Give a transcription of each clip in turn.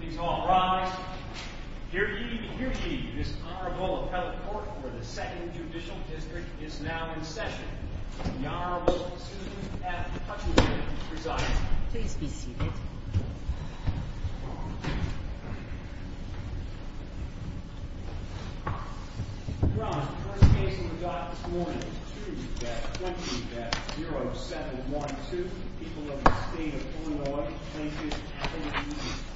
Please all rise. Hear ye, hear ye. This Honorable Appellate Court for the 2nd Judicial District is now in session. The Honorable Susan F. Hutchinson presides. Please be seated. Your Honor, the first case we've got this morning is 2-20-0712. The people of the state of Illinois thank you for having me,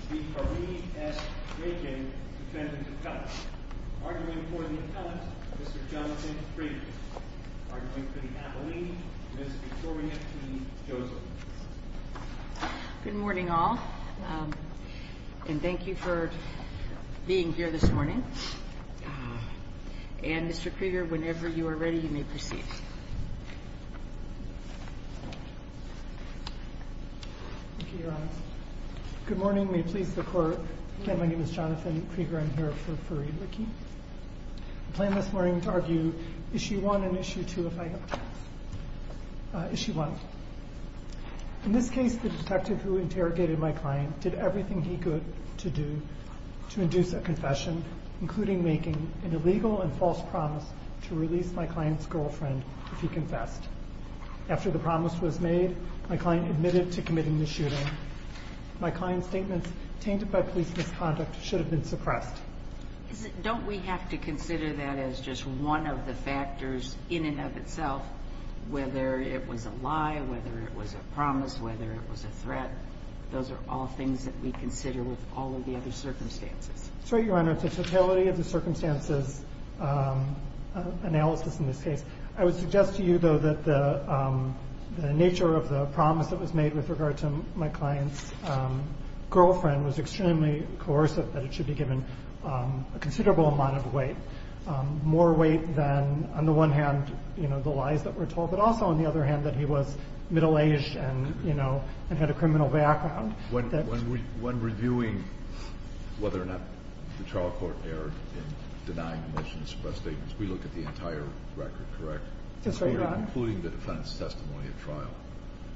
V. Kareem S. Rakin, Defendant Appellant. Arguing for the appellant, Mr. Jonathan Krieger. Arguing for the appellee, Ms. Victoria T. Joseph. Good morning all, and thank you for being here this morning. And Mr. Krieger, whenever you are ready, you may proceed. Thank you, Your Honor. Good morning. May it please the Court. Again, my name is Jonathan Krieger. I'm here for Farid Rakin. I plan this morning to argue Issue 1 and Issue 2, if I may. Issue 1. In this case, the detective who interrogated my client did everything he could to do to induce a confession, including making an illegal and false promise to release my client's girlfriend if he confessed. After the promise was made, my client admitted to committing the shooting. My client's statements, tainted by police misconduct, should have been suppressed. Don't we have to consider that as just one of the factors in and of itself, whether it was a lie, whether it was a promise, whether it was a threat? Those are all things that we consider with all of the other circumstances. That's right, Your Honor. It's a totality of the circumstances analysis in this case. I would suggest to you, though, that the nature of the promise that was made with regard to my client's girlfriend was extremely coercive, that it should be given a considerable amount of weight, more weight than, on the one hand, the lies that were told, but also, on the other hand, that he was middle-aged and had a criminal background. When reviewing whether or not the trial court erred in denying the motion to suppress statements, we look at the entire record, correct? That's right, Your Honor. Including the defendant's testimony at trial.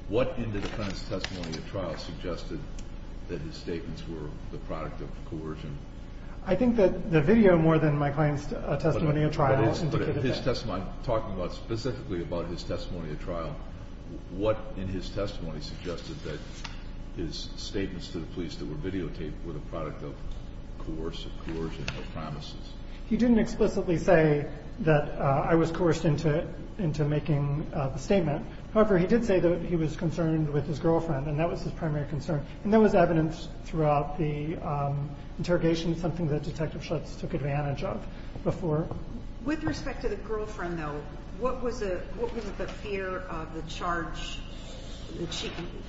What in the defendant's testimony at trial suggested that his statements were the product of coercion? I think that the video, more than my client's testimony at trial, indicated that. I'm talking specifically about his testimony at trial. What in his testimony suggested that his statements to the police that were videotaped were the product of coercive coercion or promises? He didn't explicitly say that I was coerced into making the statement. However, he did say that he was concerned with his girlfriend, and that was his primary concern. And there was evidence throughout the interrogation, something that Detective Schutz took advantage of before. With respect to the girlfriend, though, what was the fear of the charge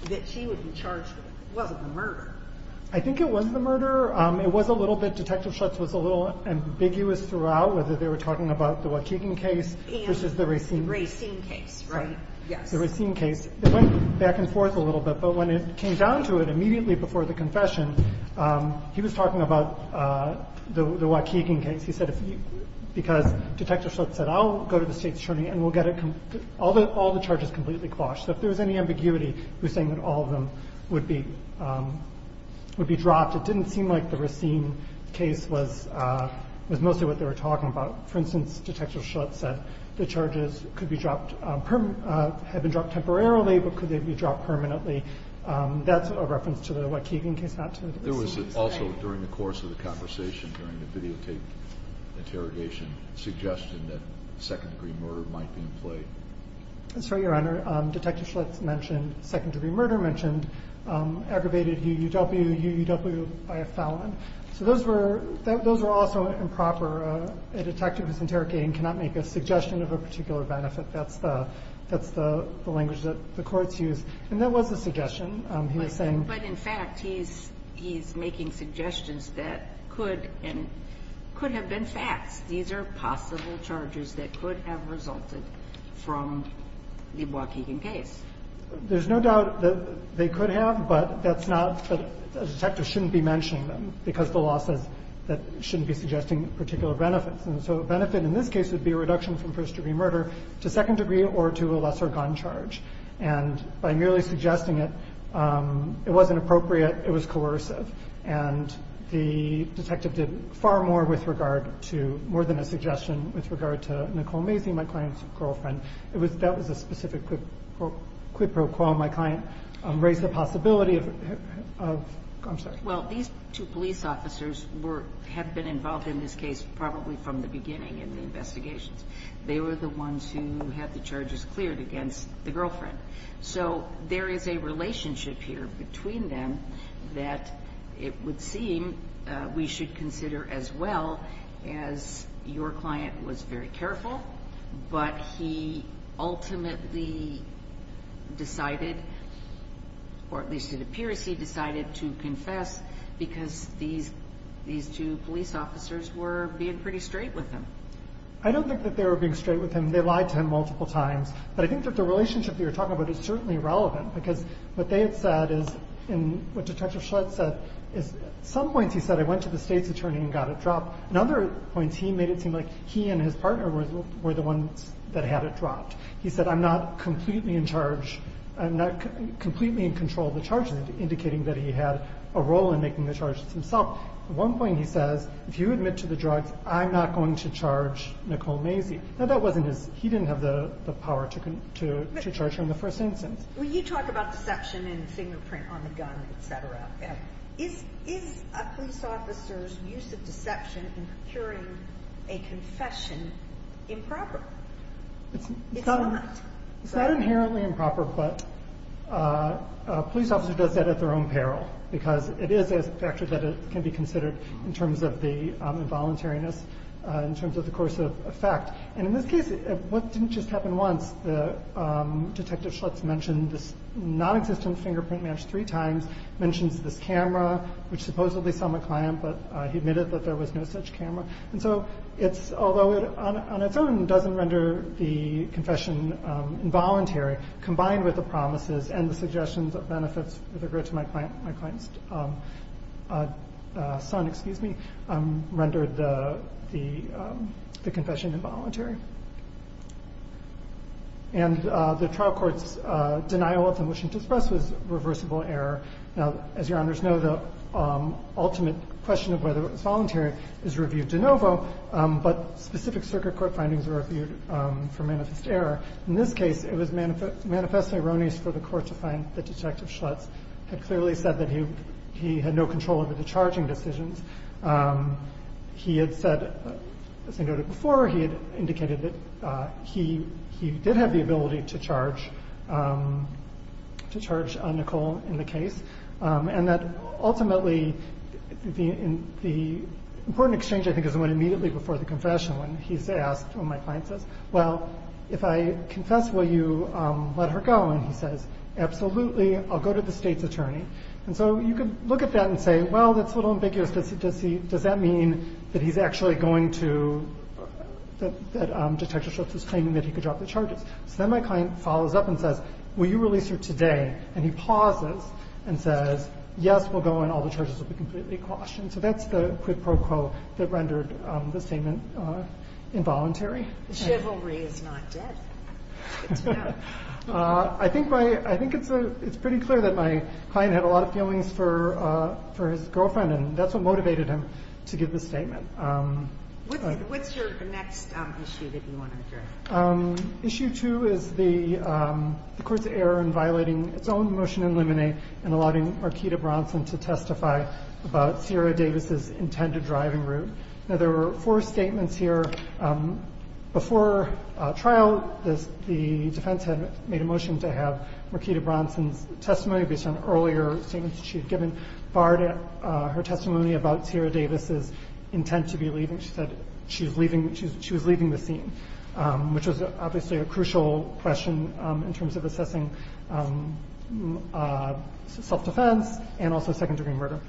that she would be charged with? It wasn't the murder. I think it was the murder. It was a little bit. Detective Schutz was a little ambiguous throughout, whether they were talking about the Waukegan case versus the Racine case. Racine case, right. Yes. The Racine case. It went back and forth a little bit, but when it came down to it, immediately before the confession, he was talking about the Waukegan case. He said, because Detective Schutz said, I'll go to the State's attorney and we'll get all the charges completely quashed. So if there was any ambiguity, he was saying that all of them would be dropped. It didn't seem like the Racine case was mostly what they were talking about. For instance, Detective Schutz said the charges could be dropped, had been dropped temporarily, but could they be dropped permanently. That's a reference to the Waukegan case, not to the Racine case. There was also, during the course of the conversation, during the videotape interrogation, suggestion that second-degree murder might be in play. Sorry, Your Honor. Detective Schutz mentioned second-degree murder, mentioned aggravated UUW, UUW by a felon. So those were also improper. A detective who's interrogating cannot make a suggestion of a particular benefit. That's the language that the courts use. And that was a suggestion. He was saying. But in fact, he's making suggestions that could and could have been facts. These are possible charges that could have resulted from the Waukegan case. There's no doubt that they could have, but that's not. A detective shouldn't be mentioning them because the law says that shouldn't be suggesting particular benefits. And so a benefit in this case would be a reduction from first-degree murder to second-degree or to a lesser gun charge. And by merely suggesting it, it wasn't appropriate. It was coercive. And the detective did far more with regard to, more than a suggestion with regard to Nicole Macy, my client's girlfriend. That was a specific quid pro quo. My client raised the possibility of, I'm sorry. Well, these two police officers have been involved in this case probably from the beginning in the investigations. They were the ones who had the charges cleared against the girlfriend. So there is a relationship here between them that it would seem we should consider as well as your client was very careful. But he ultimately decided, or at least it appears he decided to confess because these two police officers were being pretty straight with him. I don't think that they were being straight with him. They lied to him multiple times. But I think that the relationship that you're talking about is certainly relevant. Because what they had said is, and what Detective Schlatt said, is at some points he said, I went to the state's attorney and got it dropped. At other points he made it seem like he and his partner were the ones that had it dropped. He said, I'm not completely in charge. I'm not completely in control of the charges, indicating that he had a role in making the charges himself. At one point he says, if you admit to the drugs, I'm not going to charge Nicole Macy. Now, that wasn't his. He didn't have the power to charge her in the first instance. Well, you talk about deception and fingerprint on the gun, et cetera. Is a police officer's use of deception in procuring a confession improper? It's not. It's not inherently improper, but a police officer does that at their own peril. Because it is a factor that can be considered in terms of the involuntariness, in terms of the course of effect. And in this case, what didn't just happen once, Detective Schlatt's mentioned this nonexistent fingerprint match three times, mentions this camera, which supposedly saw my client, but he admitted that there was no such camera. And so, although it on its own doesn't render the confession involuntary, combined with the promises and the suggestions of benefits with regard to my client's son, excuse me, rendered the confession involuntary. And the trial court's denial of the motion to express was reversible error. Now, as your honors know, the ultimate question of whether it was voluntary is reviewed de novo, but specific circuit court findings were reviewed for manifest error. In this case, it was manifestly erroneous for the court to find that Detective Schlatt had clearly said that he had no control over the charging decisions. He had said, as I noted before, he had indicated that he did have the ability to charge Nicole in the case. And that ultimately, the important exchange, I think, is the one immediately before the confession, when he's asked, when my client says, well, if I confess, will you let her go? And he says, absolutely, I'll go to the state's attorney. And so you can look at that and say, well, that's a little ambiguous. Does he does that mean that he's actually going to that Detective Schlatt's claiming that he could drop the charges? So then my client follows up and says, will you release her today? And he pauses and says, yes, we'll go in. All the charges will be completely quashed. And so that's the quid pro quo that rendered the statement involuntary. Chivalry is not death. I think it's pretty clear that my client had a lot of feelings for his girlfriend, and that's what motivated him to give the statement. What's your next issue that you want to address? Issue two is the court's error in violating its own motion in limine and allowing Marquita Bronson to testify about Sierra Davis's intended driving route. Now, there were four statements here. Before trial, the defense had made a motion to have Marquita Bronson's testimony based on earlier statements she had given, barred her testimony about Sierra Davis's intent to be leaving. She said she was leaving the scene. Which was obviously a crucial question in terms of assessing self-defense and also second-degree murder.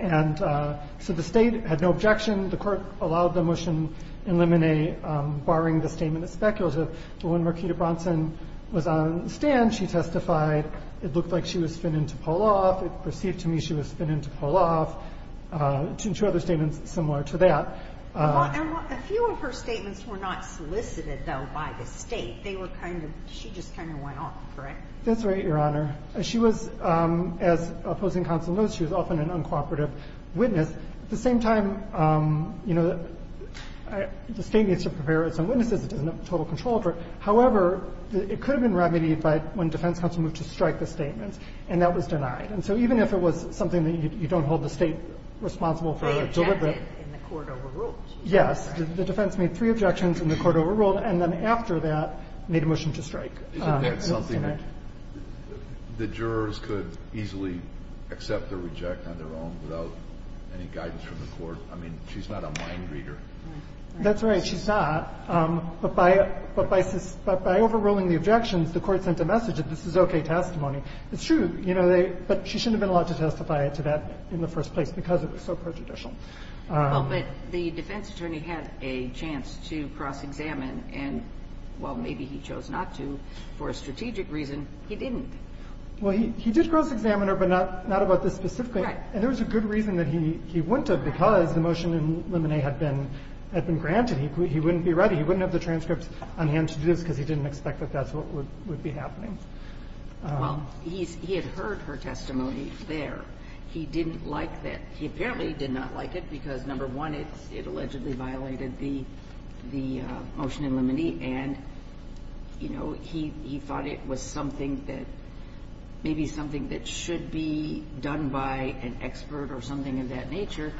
And so the State had no objection. The Court allowed the motion in limine, barring the statement as speculative. But when Marquita Bronson was on the stand, she testified, it looked like she was fitting to pull off. It perceived to me she was fitting to pull off. Two other statements similar to that. A few of her statements were not solicited, though, by the State. They were kind of, she just kind of went off, correct? That's right, Your Honor. She was, as opposing counsel knows, she was often an uncooperative witness. At the same time, you know, the State needs to prepare its own witnesses. It doesn't have total control over it. However, it could have been remedied by when defense counsel moved to strike the statements, and that was denied. And so even if it was something that you don't hold the State responsible for deliberate. In the Court overruled. Yes. The defense made three objections, and the Court overruled. And then after that, made a motion to strike. Isn't that something that the jurors could easily accept or reject on their own without any guidance from the Court? I mean, she's not a mind reader. That's right. She's not. But by overruling the objections, the Court sent a message that this is okay testimony. It's true, you know, but she shouldn't have been allowed to testify to that in the first place because it was so prejudicial. Well, but the defense attorney had a chance to cross-examine, and while maybe he chose not to, for a strategic reason, he didn't. Well, he did cross-examine her, but not about this specifically. Right. And there was a good reason that he wouldn't have because the motion in Lemonet had been granted. He wouldn't be ready. He wouldn't have the transcripts on hand to do this because he didn't expect that that's what would be happening. Well, he had heard her testimony there. He didn't like that. He apparently did not like it because, number one, it allegedly violated the motion in Lemonet, and, you know, he thought it was something that maybe something that should be done by an expert or something of that nature.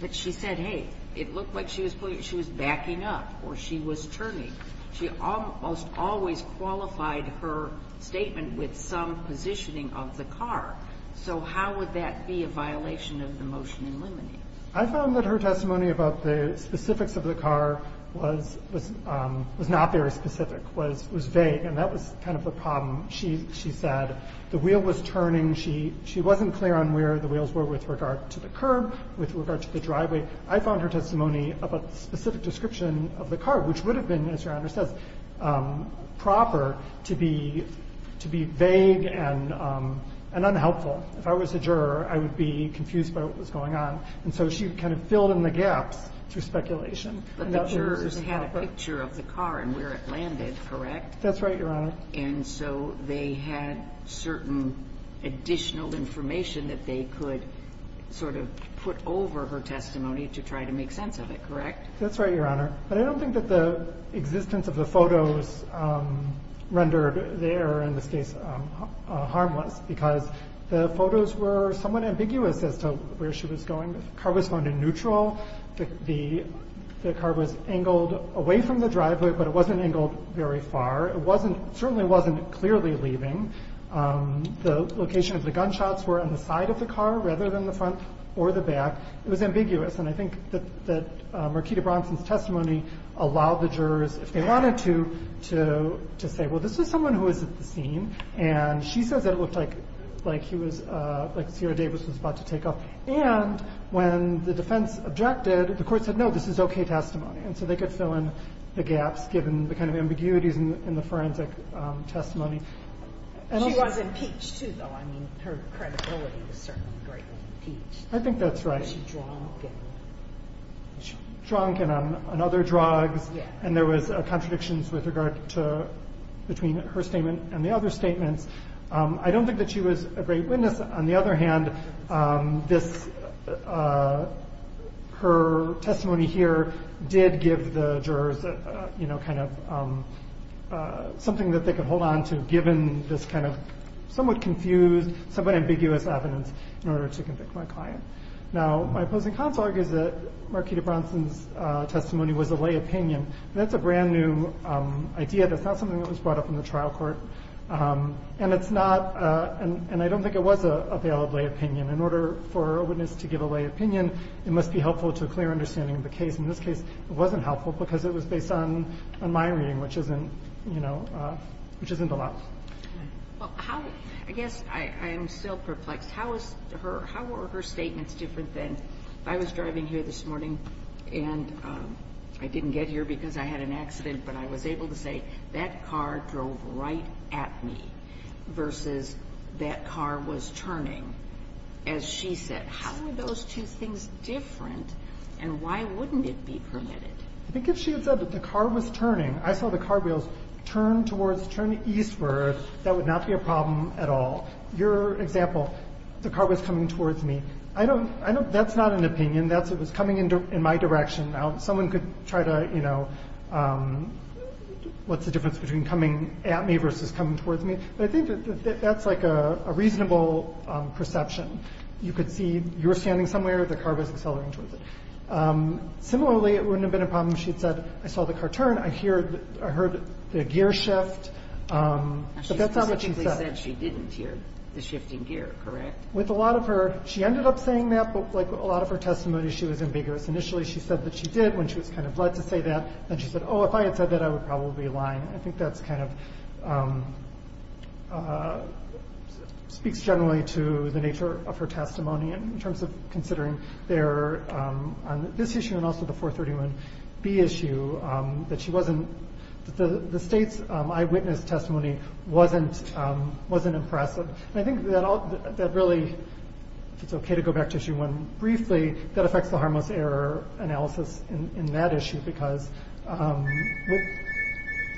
But she said, hey, it looked like she was backing up or she was turning. She almost always qualified her statement with some positioning of the car. So how would that be a violation of the motion in Lemonet? I found that her testimony about the specifics of the car was not very specific, was vague, and that was kind of the problem. She said the wheel was turning. She wasn't clear on where the wheels were with regard to the curb, with regard to the driveway. I found her testimony of a specific description of the car, which would have been, as Your Honor says, proper to be vague and unhelpful. If I was a juror, I would be confused by what was going on. And so she kind of filled in the gaps through speculation. But the jurors had a picture of the car and where it landed, correct? That's right, Your Honor. And so they had certain additional information that they could sort of put over her testimony to try to make sense of it, correct? That's right, Your Honor. But I don't think that the existence of the photos rendered there in this case harmless because the photos were somewhat ambiguous as to where she was going. The car was going in neutral. The car was angled away from the driveway, but it wasn't angled very far. It certainly wasn't clearly leaving. The location of the gunshots were on the side of the car rather than the front or the back. It was ambiguous. And I think that Markita Bronson's testimony allowed the jurors, if they wanted to, to say, well, this is someone who was at the scene. And she says that it looked like he was – like Sierra Davis was about to take off. And when the defense objected, the court said, no, this is okay testimony. And so they could fill in the gaps given the kind of ambiguities in the forensic testimony. She was impeached, too, though. I mean, her credibility was certainly greatly impeached. I think that's right. She was drunk and on other drugs. Yeah. And there was contradictions with regard to – between her statement and the other statements. I don't think that she was a great witness. On the other hand, this – her testimony here did give the jurors, you know, kind of something that they could hold on to, given this kind of somewhat confused, somewhat ambiguous evidence in order to convict my client. Now, my opposing counsel argues that Markita Bronson's testimony was a lay opinion. That's a brand-new idea. That's not something that was brought up in the trial court. And it's not – and I don't think it was a valid lay opinion. In order for a witness to give a lay opinion, it must be helpful to a clear understanding of the case. In this case, it wasn't helpful because it was based on my reading, which isn't – you know, which isn't allowed. Well, how – I guess I am still perplexed. How was her – how were her statements different than if I was driving here this morning and I didn't get here because I had an accident, but I was able to say, that car drove right at me versus that car was turning? As she said, how were those two things different, and why wouldn't it be permitted? I think if she had said that the car was turning, I saw the car wheels turn towards – turn eastward, that would not be a problem at all. Your example, the car was coming towards me. I don't – I don't – that's not an opinion. That's – it was coming in my direction. Now, someone could try to, you know, what's the difference between coming at me versus coming towards me? But I think that that's like a reasonable perception. You could see you were standing somewhere. The car was accelerating towards it. Similarly, it wouldn't have been a problem if she had said, I saw the car turn. I heard the gear shift. But that's not what she said. She specifically said she didn't hear the shifting gear, correct? With a lot of her – she ended up saying that, but like a lot of her testimony, she was ambiguous. Initially, she said that she did when she was kind of led to say that. Then she said, oh, if I had said that, I would probably be lying. I think that's kind of – speaks generally to the nature of her testimony in terms of considering their – on this issue and also the 431B issue that she wasn't – the state's eyewitness testimony wasn't impressive. I think that all – that really – if it's okay to go back to issue one briefly, that affects the harmless error analysis in that issue because –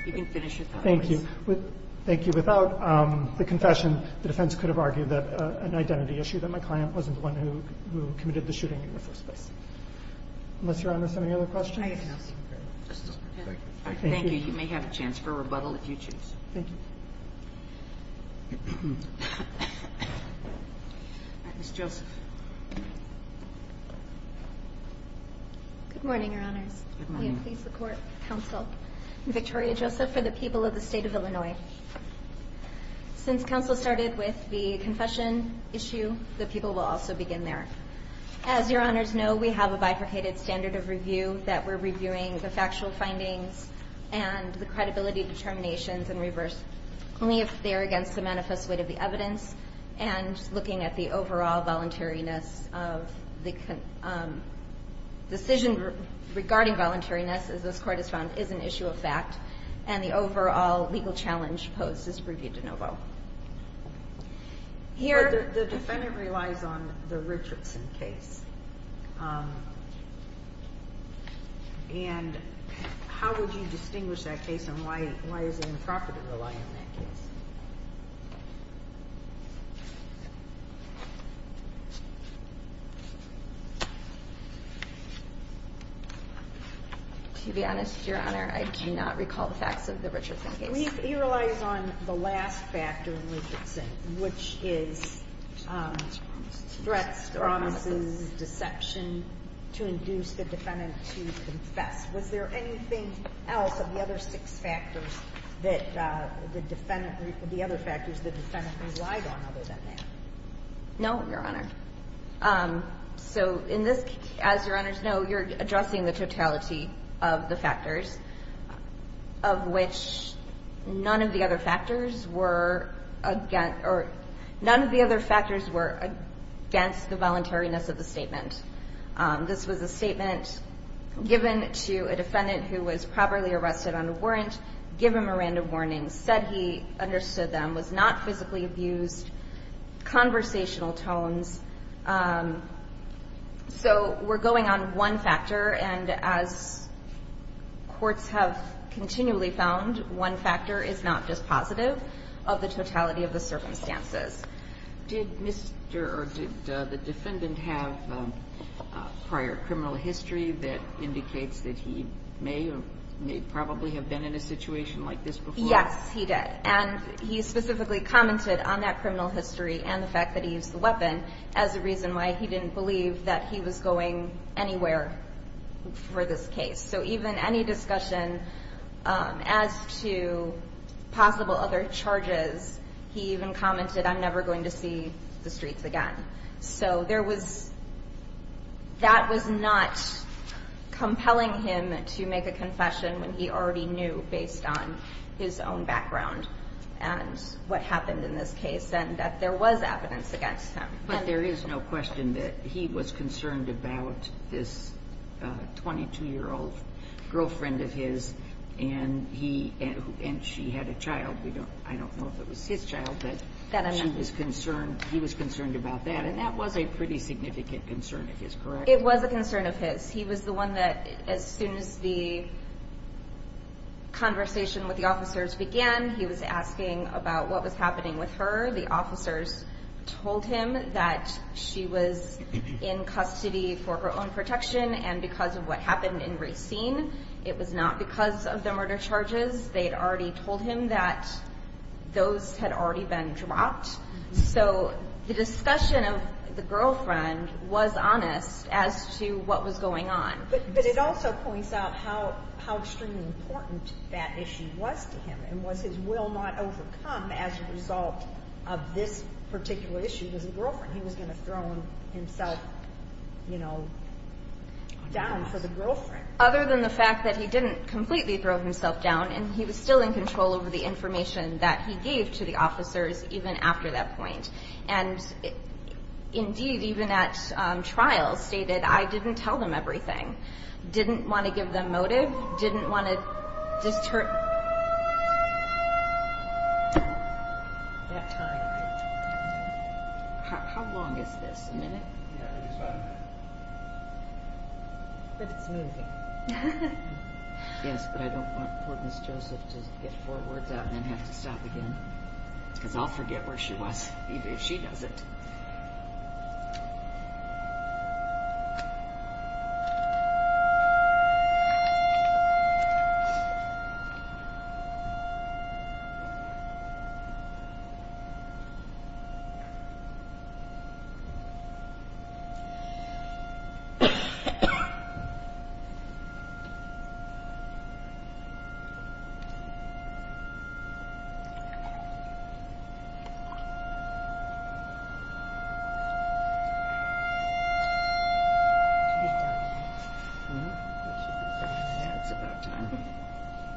You can finish your thought, please. Thank you. Thank you. Without the confession, the defense could have argued that an identity issue, that my client wasn't the one who committed the shooting in the first place. Unless Your Honor has any other questions? I have. Thank you. You may have a chance for a rebuttal if you choose. Thank you. Ms. Joseph. Good morning, Your Honors. Good morning. I am pleased to report counsel Victoria Joseph for the people of the State of Illinois. Since counsel started with the confession issue, the people will also begin there. As Your Honors know, we have a bifurcated standard of review that we're reviewing the factual findings and the credibility determinations and reverse only if they are against the manifest weight of the evidence and looking at the overall voluntariness of the – decision regarding voluntariness, as this Court has found, is an issue of fact and the overall legal challenge posed is reviewed de novo. The defendant relies on the Richardson case. And how would you distinguish that case and why is it improper to rely on that case? To be honest, Your Honor, I do not recall the facts of the Richardson case. He relies on the last factor in Richardson, which is threats, promises, deception to induce the defendant to confess. Was there anything else of the other six factors that the defendant – the other factors the defendant relied on other than that? No, Your Honor. So in this – as Your Honors know, you're addressing the totality of the factors, of which none of the other factors were against – or none of the other factors were against the voluntariness of the statement. This was a statement given to a defendant who was properly arrested on a warrant, given a random warning, said he understood them, was not physically abused, conversational tones. So we're going on one factor. And as courts have continually found, one factor is not just positive of the totality of the circumstances. Did Mr. – or did the defendant have prior criminal history that indicates that he may or may probably have been in a situation like this before? Yes, he did. And he specifically commented on that criminal history and the fact that he used the weapon as a reason why he didn't believe that he was going anywhere for this case. So even any discussion as to possible other charges, he even commented, I'm never going to see the streets again. So there was – that was not compelling him to make a confession when he already knew based on his own background and what happened in this case and that there was evidence against him. But there is no question that he was concerned about this 22-year-old girlfriend of his and he – and she had a child. I don't know if it was his child, but she was concerned. He was concerned about that. And that was a pretty significant concern of his, correct? It was a concern of his. He was the one that, as soon as the conversation with the officers began, he was asking about what was happening with her. The officers told him that she was in custody for her own protection and because of what happened in Racine. It was not because of the murder charges. They had already told him that those had already been dropped. So the discussion of the girlfriend was honest as to what was going on. But it also points out how extremely important that issue was to him and was his will not overcome as a result of this particular issue with the girlfriend. He was going to throw himself, you know, down for the girlfriend. Other than the fact that he didn't completely throw himself down and he was still in control over the information that he gave to the officers even after that point. And indeed, even at trial, stated, I didn't tell them everything. Didn't want to give them motive. Didn't want to disturb. That time. How long is this? A minute? Yeah, I think it's about a minute. But it's moving. Yes, but I don't want poor Miss Joseph to get four words out and then have to stop again. Because I'll forget where she was, even if she doesn't. I. I. I.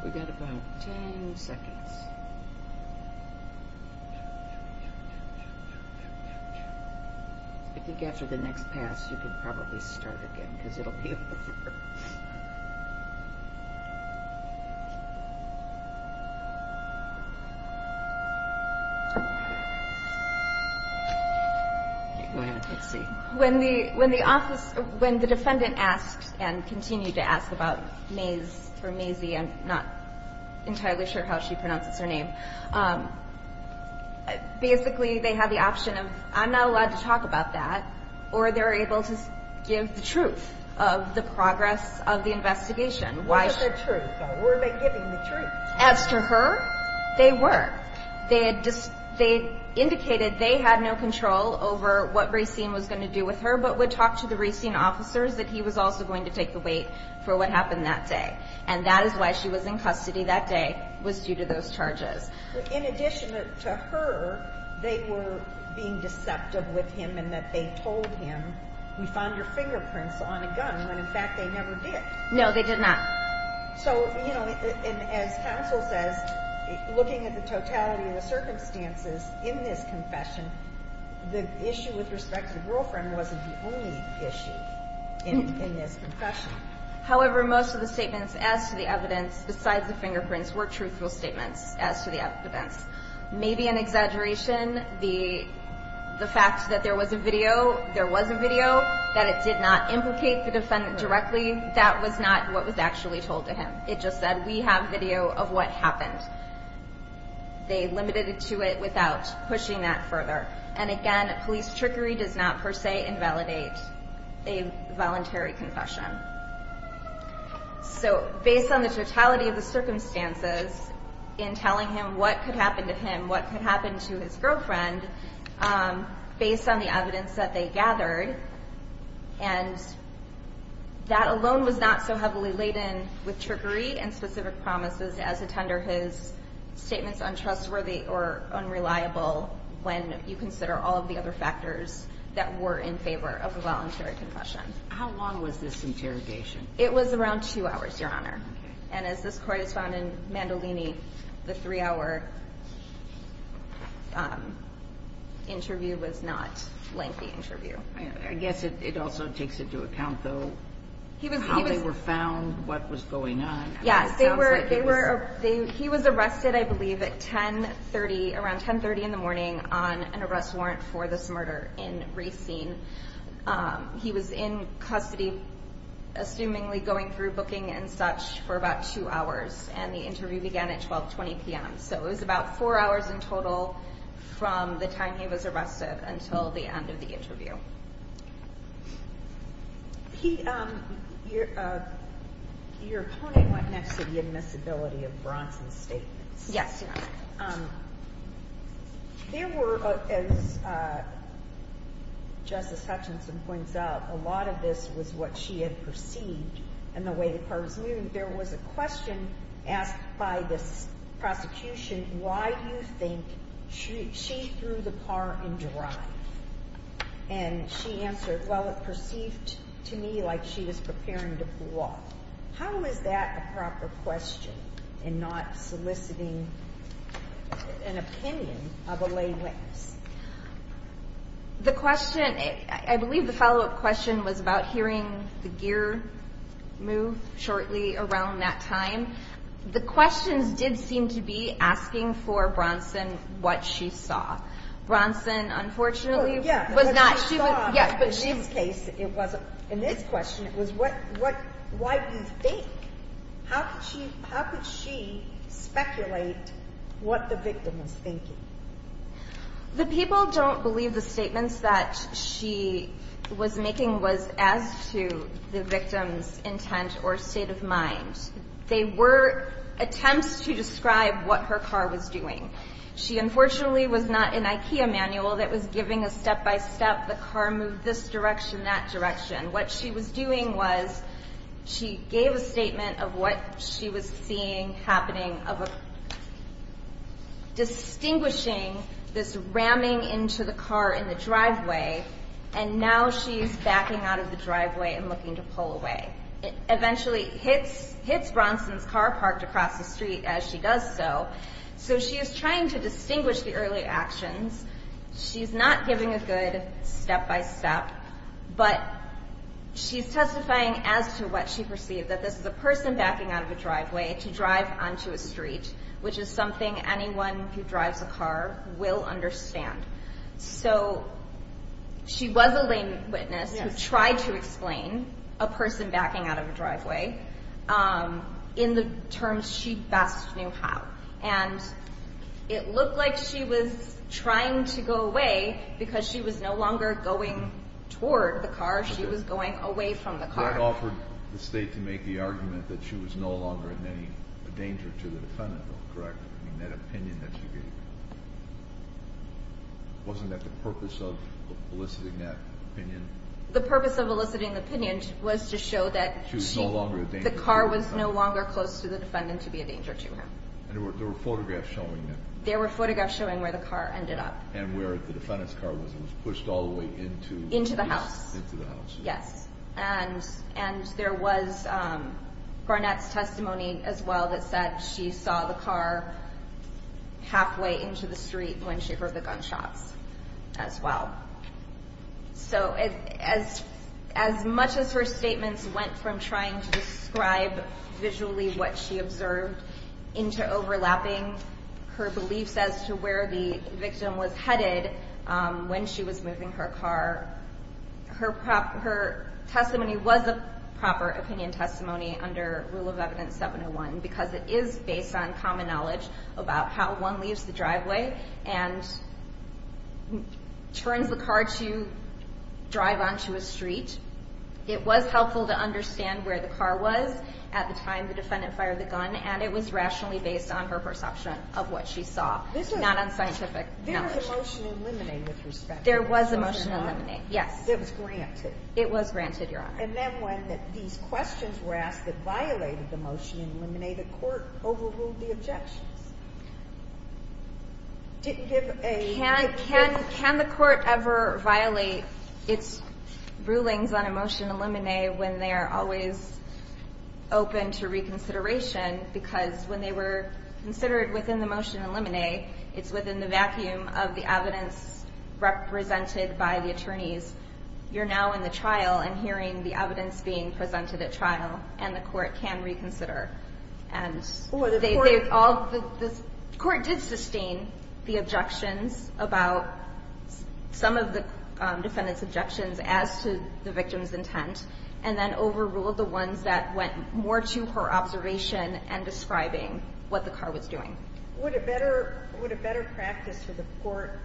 We've got about 10 seconds. I think after the next pass, you can probably start again because it'll be. When the when the office when the defendant asked and continued to ask about maze for Maisie and not entirely sure how she pronounces her name. Basically, they have the option of I'm not allowed to talk about that. Or they're able to give the truth of the progress of the investigation. Why is that true? Where are they getting the truth as to her? They were. They had just they indicated they had no control over what racing was going to do with her, but would talk to the racing officers that he was also going to take the weight for what happened that day. And that is why she was in custody that day was due to those charges. In addition to her, they were being deceptive with him and that they told him, we found your fingerprints on a gun when in fact they never did. No, they did not. So, you know, as counsel says, looking at the totality of the circumstances in this confession, the issue with respect to the girlfriend wasn't the only issue in this confession. However, most of the statements as to the evidence, besides the fingerprints, were truthful statements as to the evidence. Maybe an exaggeration, the fact that there was a video, there was a video, that it did not implicate the defendant directly, that was not what was actually told to him. It just said we have video of what happened. They limited it to it without pushing that further. And again, police trickery does not per se invalidate a voluntary confession. So based on the totality of the circumstances in telling him what could happen to him, what could happen to his girlfriend, based on the evidence that they gathered, and that alone was not so heavily laden with trickery and specific promises as to tender his statements untrustworthy or unreliable when you consider all of the other factors that were in favor of a voluntary confession. How long was this interrogation? It was around two hours, Your Honor. And as this court has found in Mandolini, the three-hour interview was not a lengthy interview. I guess it also takes into account, though, how they were found, what was going on. Yes, he was arrested, I believe, at around 10.30 in the morning on an arrest warrant for this murder in Racine. He was in custody, assumingly going through booking and such, for about two hours, and the interview began at 12.20 p.m. So it was about four hours in total from the time he was arrested until the end of the interview. Your opponent went next to the admissibility of Bronson's statements. Yes, Your Honor. There were, as Justice Hutchinson points out, a lot of this was what she had perceived and the way the part was moved. There was a question asked by this prosecution, why do you think she threw the par in drive? And she answered, well, it perceived to me like she was preparing to pull off. How is that a proper question in not soliciting an opinion of a lay witness? The question, I believe the follow-up question was about hearing the gear move shortly around that time. The questions did seem to be asking for Bronson what she saw. Bronson, unfortunately, was not. In this case, it wasn't. In this question, it was why do you think? How could she speculate what the victim was thinking? The people don't believe the statements that she was making was as to the victim's intent or state of mind. They were attempts to describe what her car was doing. She, unfortunately, was not an IKEA manual that was giving a step-by-step, the car moved this direction, that direction. What she was doing was she gave a statement of what she was seeing happening, distinguishing this ramming into the car in the driveway, and now she's backing out of the driveway and looking to pull away. It eventually hits Bronson's car parked across the street as she does so. So she is trying to distinguish the earlier actions. She's not giving a good step-by-step, but she's testifying as to what she perceived, that this is a person backing out of a driveway to drive onto a street, which is something anyone who drives a car will understand. So she was a lame witness who tried to explain a person backing out of a driveway in the terms she best knew how, and it looked like she was trying to go away because she was no longer going toward the car. She was going away from the car. That offered the State to make the argument that she was no longer in any danger to the defendant. Correct. I mean, that opinion that she gave. Wasn't that the purpose of eliciting that opinion? The purpose of eliciting the opinion was to show that the car was no longer close to the defendant to be a danger to her. And there were photographs showing that. There were photographs showing where the car ended up. And where the defendant's car was. It was pushed all the way into the house. Into the house. Yes. And there was Garnett's testimony as well that said she saw the car halfway into the street when she heard the gunshots as well. So as much as her statements went from trying to describe visually what she observed into overlapping her beliefs as to where the victim was headed when she was moving her car, her testimony was a proper opinion testimony under Rule of Evidence 701 because it is based on common knowledge about how one leaves the driveway and turns the car to drive onto a street. It was helpful to understand where the car was at the time the defendant fired the gun and it was rationally based on her perception of what she saw, not on scientific knowledge. There was a motion to eliminate. Yes. It was granted. It was granted, Your Honor. And then when these questions were asked that violated the motion to eliminate, the court overruled the objections. Can the court ever violate its rulings on a motion to eliminate when they are always open to reconsideration because when they were considered within the motion to eliminate, it's within the vacuum of the evidence represented by the attorneys, you're now in the trial and hearing the evidence being presented at trial and the court can reconsider. The court did sustain the objections about some of the defendant's objections as to the victim's intent and then overruled the ones that went more to her observation and describing what the car was doing. Would a better practice for the court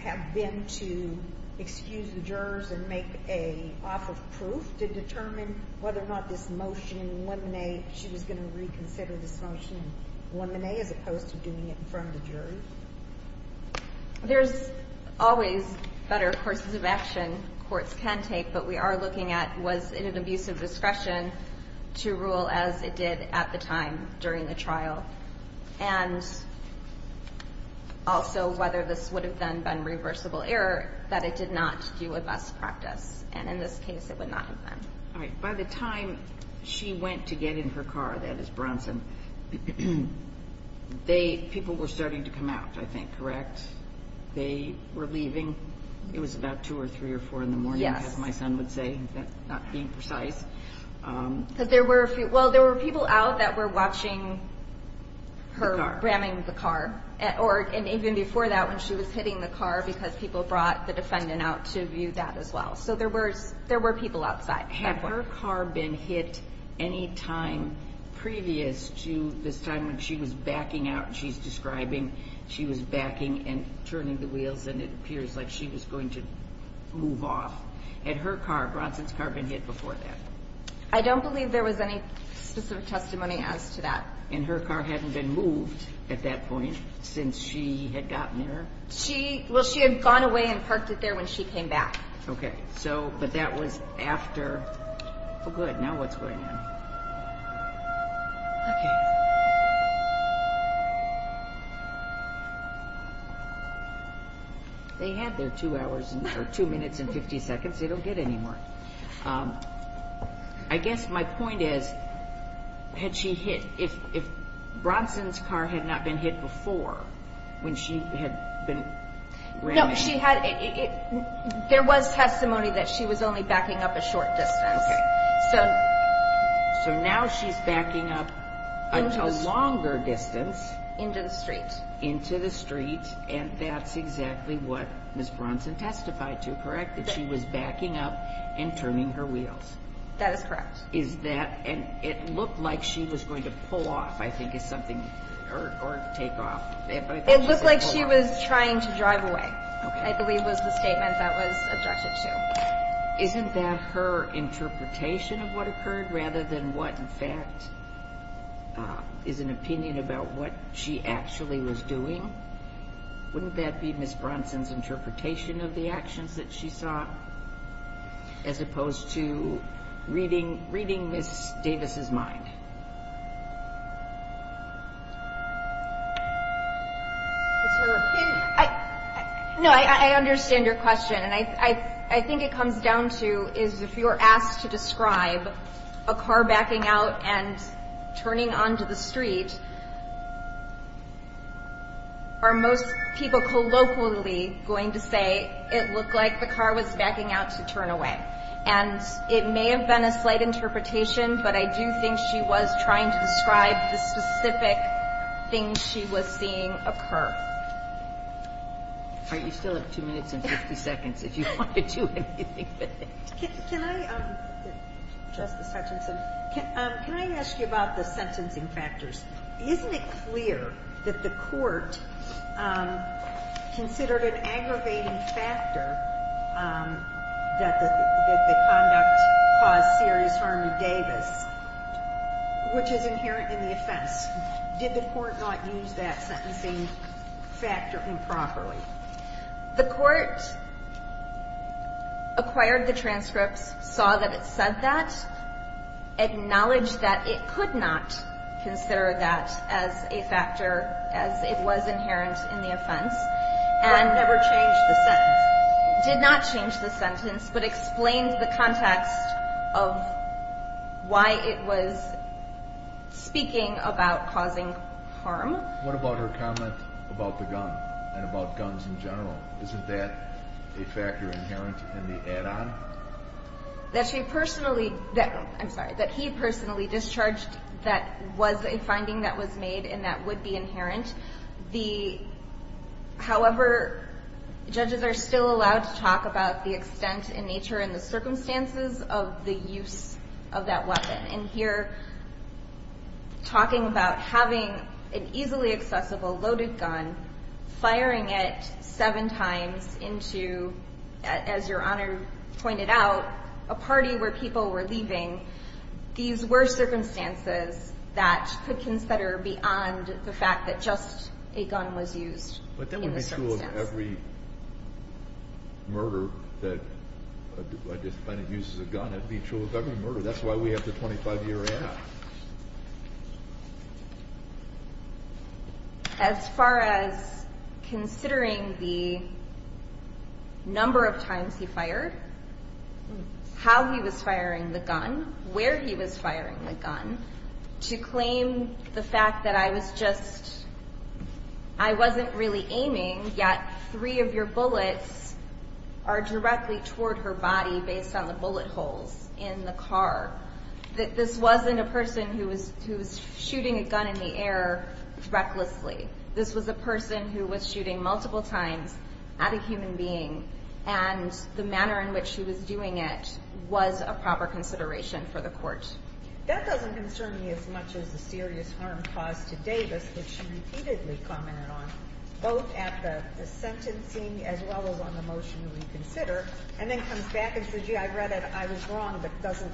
have been to excuse the jurors and make an offer of proof to determine whether or not this motion to eliminate, she was going to reconsider this motion to eliminate as opposed to doing it in front of the jury? There's always better courses of action courts can take, but we are looking at was it an abuse of discretion to rule as it did at the time during the trial and also whether this would have then been reversible error that it did not do a best practice and in this case it would not have been. All right. By the time she went to get in her car, that is Bronson, people were starting to come out, I think, correct? They were leaving. It was about 2 or 3 or 4 in the morning, as my son would say, not being precise. Well, there were people out that were watching her ramming the car and even before that when she was hitting the car because people brought the defendant out to view that as well. So there were people outside. Had her car been hit any time previous to this time when she was backing out, she's describing she was backing and turning the wheels and it appears like she was going to move off. Had her car, Bronson's car, been hit before that? I don't believe there was any specific testimony as to that. And her car hadn't been moved at that point since she had gotten there? Well, she had gone away and parked it there when she came back. Okay. So, but that was after. Oh, good. Now what's going on? Okay. They had their 2 hours or 2 minutes and 50 seconds. They don't get any more. I guess my point is, had she hit, if Bronson's car had not been hit before when she had been ramming? No, she had, there was testimony that she was only backing up a short distance. Okay. So. So now she's backing up a longer distance. Into the street. Into the street, and that's exactly what Ms. Bronson testified to, correct? That she was backing up and turning her wheels. That is correct. Is that, and it looked like she was going to pull off, I think, is something, or take off. It looked like she was trying to drive away, I believe was the statement that was objected to. Isn't that her interpretation of what occurred, rather than what, in fact, is an opinion about what she actually was doing? Wouldn't that be Ms. Bronson's interpretation of the actions that she saw, as opposed to reading Ms. Davis's mind? It's her opinion. No, I understand your question, and I think it comes down to is if you're asked to describe a car backing out and turning onto the street, are most people colloquially going to say it looked like the car was backing out to turn away? And it may have been a slight interpretation, but I do think she was trying to describe the specific things she was seeing occur. All right, you still have 2 minutes and 50 seconds if you want to do anything. Can I, Justice Hutchinson, can I ask you about the sentencing factors? Isn't it clear that the court considered an aggravating factor that the conduct caused serious harm to Davis, which is inherent in the offense? Did the court not use that sentencing factor improperly? The court acquired the transcripts, saw that it said that, acknowledged that it could not consider that as a factor, as it was inherent in the offense, and never changed the sentence. Did not change the sentence, but explained the context of why it was speaking about causing harm. What about her comment about the gun and about guns in general? Isn't that a factor inherent in the add-on? That she personally, I'm sorry, that he personally discharged that was a finding that was made and that would be inherent. However, judges are still allowed to talk about the extent in nature and the circumstances of the use of that weapon. And here talking about having an easily accessible loaded gun, firing it 7 times into, as your Honor pointed out, a party where people were leaving, these were circumstances that could consider beyond the fact that just a gun was used in the circumstance. But that would be true of every murder that a defendant uses a gun. That would be true of every murder. That's why we have the 25-year add-on. As far as considering the number of times he fired, how he was firing the gun, where he was firing the gun, to claim the fact that I was just, I wasn't really aiming, yet three of your bullets are directly toward her body based on the bullet holes in the car. That this wasn't a person who was shooting a gun in the air recklessly. This was a person who was shooting multiple times at a human being and the manner in which he was doing it was a proper consideration for the court. That doesn't concern me as much as the serious harm caused to Davis, which she repeatedly commented on, both at the sentencing as well as on the motion we consider. And then comes back and says, gee, I read it, I was wrong, but doesn't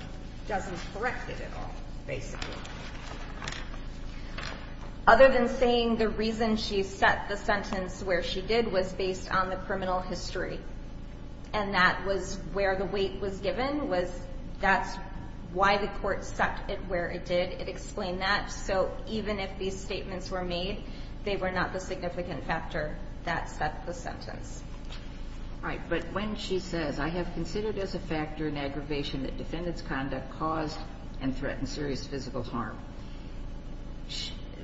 correct it at all, basically. Other than saying the reason she set the sentence where she did was based on the criminal history. And that was where the weight was given. That's why the court set it where it did. It explained that. So even if these statements were made, they were not the significant factor that set the sentence. All right, but when she says, I have considered as a factor an aggravation that defendant's conduct caused and threatened serious physical harm.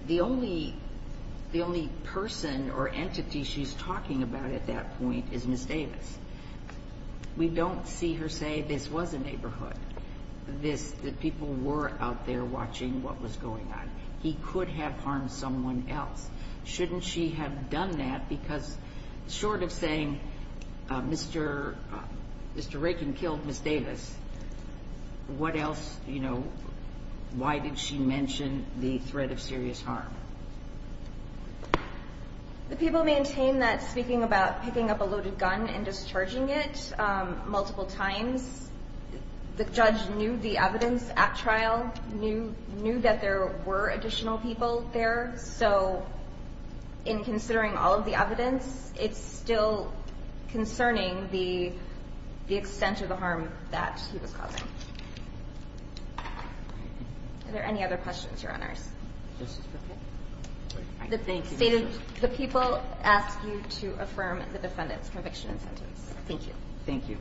The only person or entity she's talking about at that point is Ms. Davis. We don't see her say this was a neighborhood, that people were out there watching what was going on. And that he could have harmed someone else. Shouldn't she have done that? Because short of saying Mr. Raken killed Ms. Davis, what else? Why did she mention the threat of serious harm? The people maintain that speaking about picking up a loaded gun and discharging it multiple times, the judge knew the evidence at trial. Knew that there were additional people there. So in considering all of the evidence, it's still concerning the extent of the harm that he was causing. Are there any other questions, Your Honors? The people ask you to affirm the defendant's conviction and sentence. Thank you.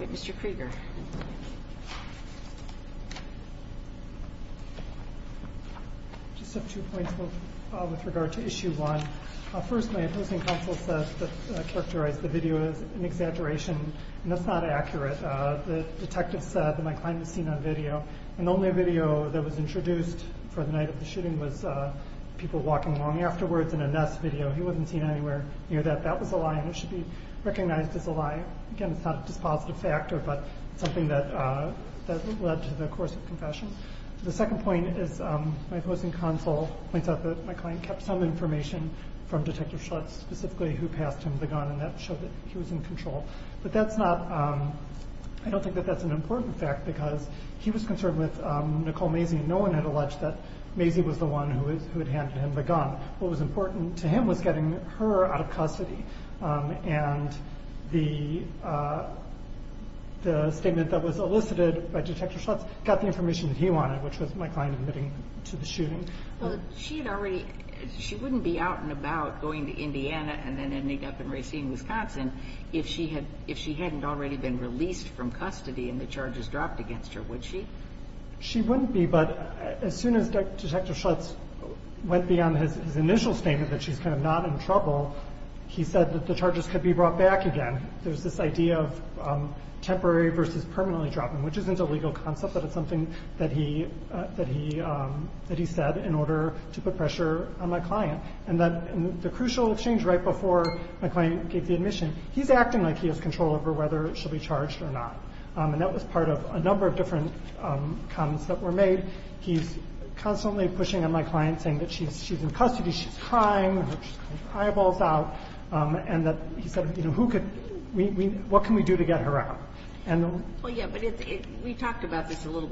Mr. Krieger. I just have two points with regard to Issue 1. First, my opposing counsel said that I characterized the video as an exaggeration. And that's not accurate. The detective said that my client was seen on video. And the only video that was introduced for the night of the shooting was people walking along afterwards in a nest video. He wasn't seen anywhere near that. That was a lie, and it should be recognized as a lie. Again, it's not a dispositive factor, but something that led to the course of confession. The second point is my opposing counsel points out that my client kept some information from Detective Schlutz, specifically who passed him the gun, and that showed that he was in control. But I don't think that that's an important fact, because he was concerned with Nicole Mazie. No one had alleged that Mazie was the one who had handed him the gun. What was important to him was getting her out of custody, and the statement that was elicited by Detective Schlutz got the information that he wanted, which was my client admitting to the shooting. She wouldn't be out and about going to Indiana and then ending up in Racine, Wisconsin, if she hadn't already been released from custody and the charges dropped against her, would she? She wouldn't be, but as soon as Detective Schlutz went beyond his initial statement that she's kind of not in trouble, he said that the charges could be brought back again. There's this idea of temporary versus permanently dropping, which isn't a legal concept, but it's something that he said in order to put pressure on my client. And the crucial change right before my client gave the admission, he's acting like he has control over whether she'll be charged or not, and that was part of a number of different comments that were made. He's constantly pushing on my client, saying that she's in custody, she's crying, her eyeball's out, and that he said, you know, what can we do to get her out? Well, yeah, but we talked about this a little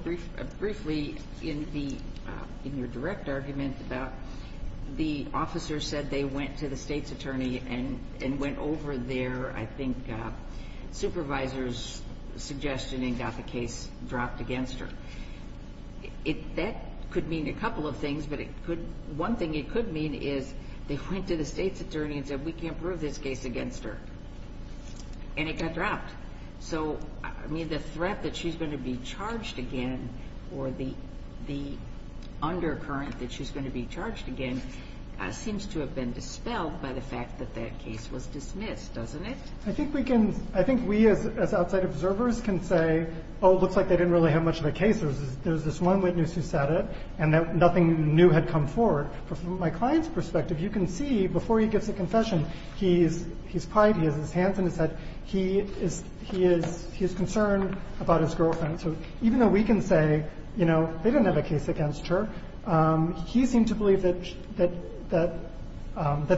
briefly in your direct argument about the officer said they went to the state's attorney and went over their, I think, supervisor's suggestion and got the case dropped against her. That could mean a couple of things, but one thing it could mean is they went to the state's attorney and said, we can't prove this case against her, and it got dropped. So, I mean, the threat that she's going to be charged again, or the undercurrent that she's going to be charged again, seems to have been dispelled by the fact that that case was dismissed, doesn't it? I think we can, I think we as outside observers can say, oh, it looks like they didn't really have much of a case. There's this one witness who said it, and nothing new had come forward. But from my client's perspective, you can see before he gives a confession, he's quiet, he has his hands on his head, he is concerned about his girlfriend. So even though we can say, you know, they didn't have a case against her, he seemed to believe that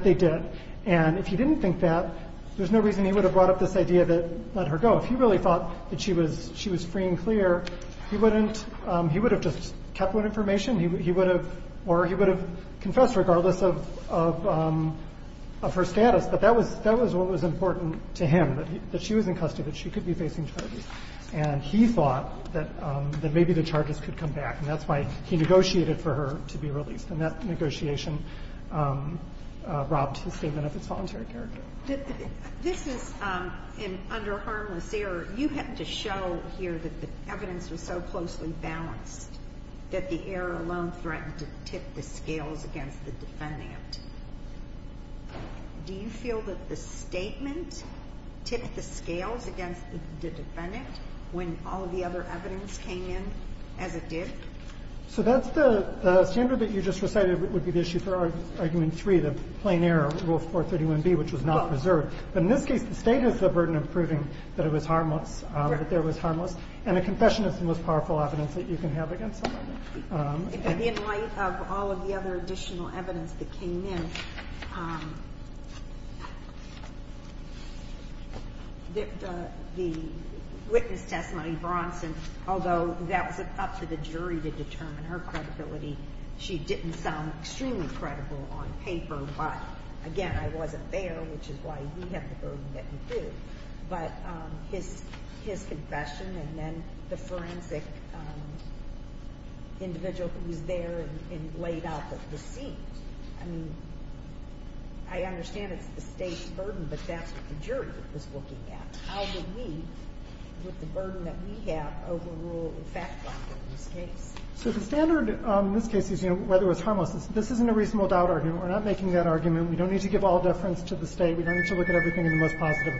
they did. And if he didn't think that, there's no reason he would have brought up this idea that let her go. If he really thought that she was free and clear, he wouldn't, he would have just kept that information. He would have, or he would have confessed regardless of her status. But that was what was important to him, that she was in custody, that she could be facing charges. And he thought that maybe the charges could come back, and that's why he negotiated for her to be released. And that negotiation robbed his statement of its voluntary character. This is under harmless error. Ginsburg, you had to show here that the evidence was so closely balanced that the error alone threatened to tip the scales against the defendant. Do you feel that the statement tipped the scales against the defendant when all of the other evidence came in as it did? So that's the standard that you just recited would be the issue for Argument 3, the plain error, Rule 431b, which was not preserved. But in this case, the State has the burden of proving that it was harmless, that there was harmless. And a confession is the most powerful evidence that you can have against someone. In light of all of the other additional evidence that came in, the witness testimony, Bronson, although that was up to the jury to determine her credibility, she didn't sound extremely credible on paper. I don't know why. Again, I wasn't there, which is why you have the burden that you do. But his confession and then the forensic individual who was there and laid out the deceit. I mean, I understand it's the State's burden, but that's what the jury was looking at. How would we, with the burden that we have, overrule the fact factor in this case? So the standard in this case is, you know, whether it was harmless. This isn't a reasonable doubt argument. We're not making that argument. We don't need to give all deference to the State. We don't need to look at everything in the most positive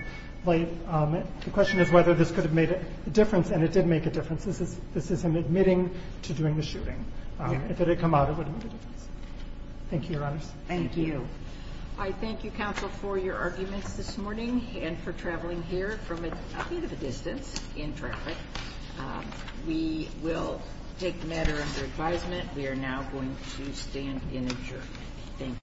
light. The question is whether this could have made a difference, and it did make a difference. This is an admitting to doing the shooting. If it had come out, it would have made a difference. Thank you, Your Honors. Thank you. I thank you, counsel, for your arguments this morning and for traveling here from a bit of a distance in traffic. We will take the matter under advisement. We are now going to stand in adjournment. Thank you.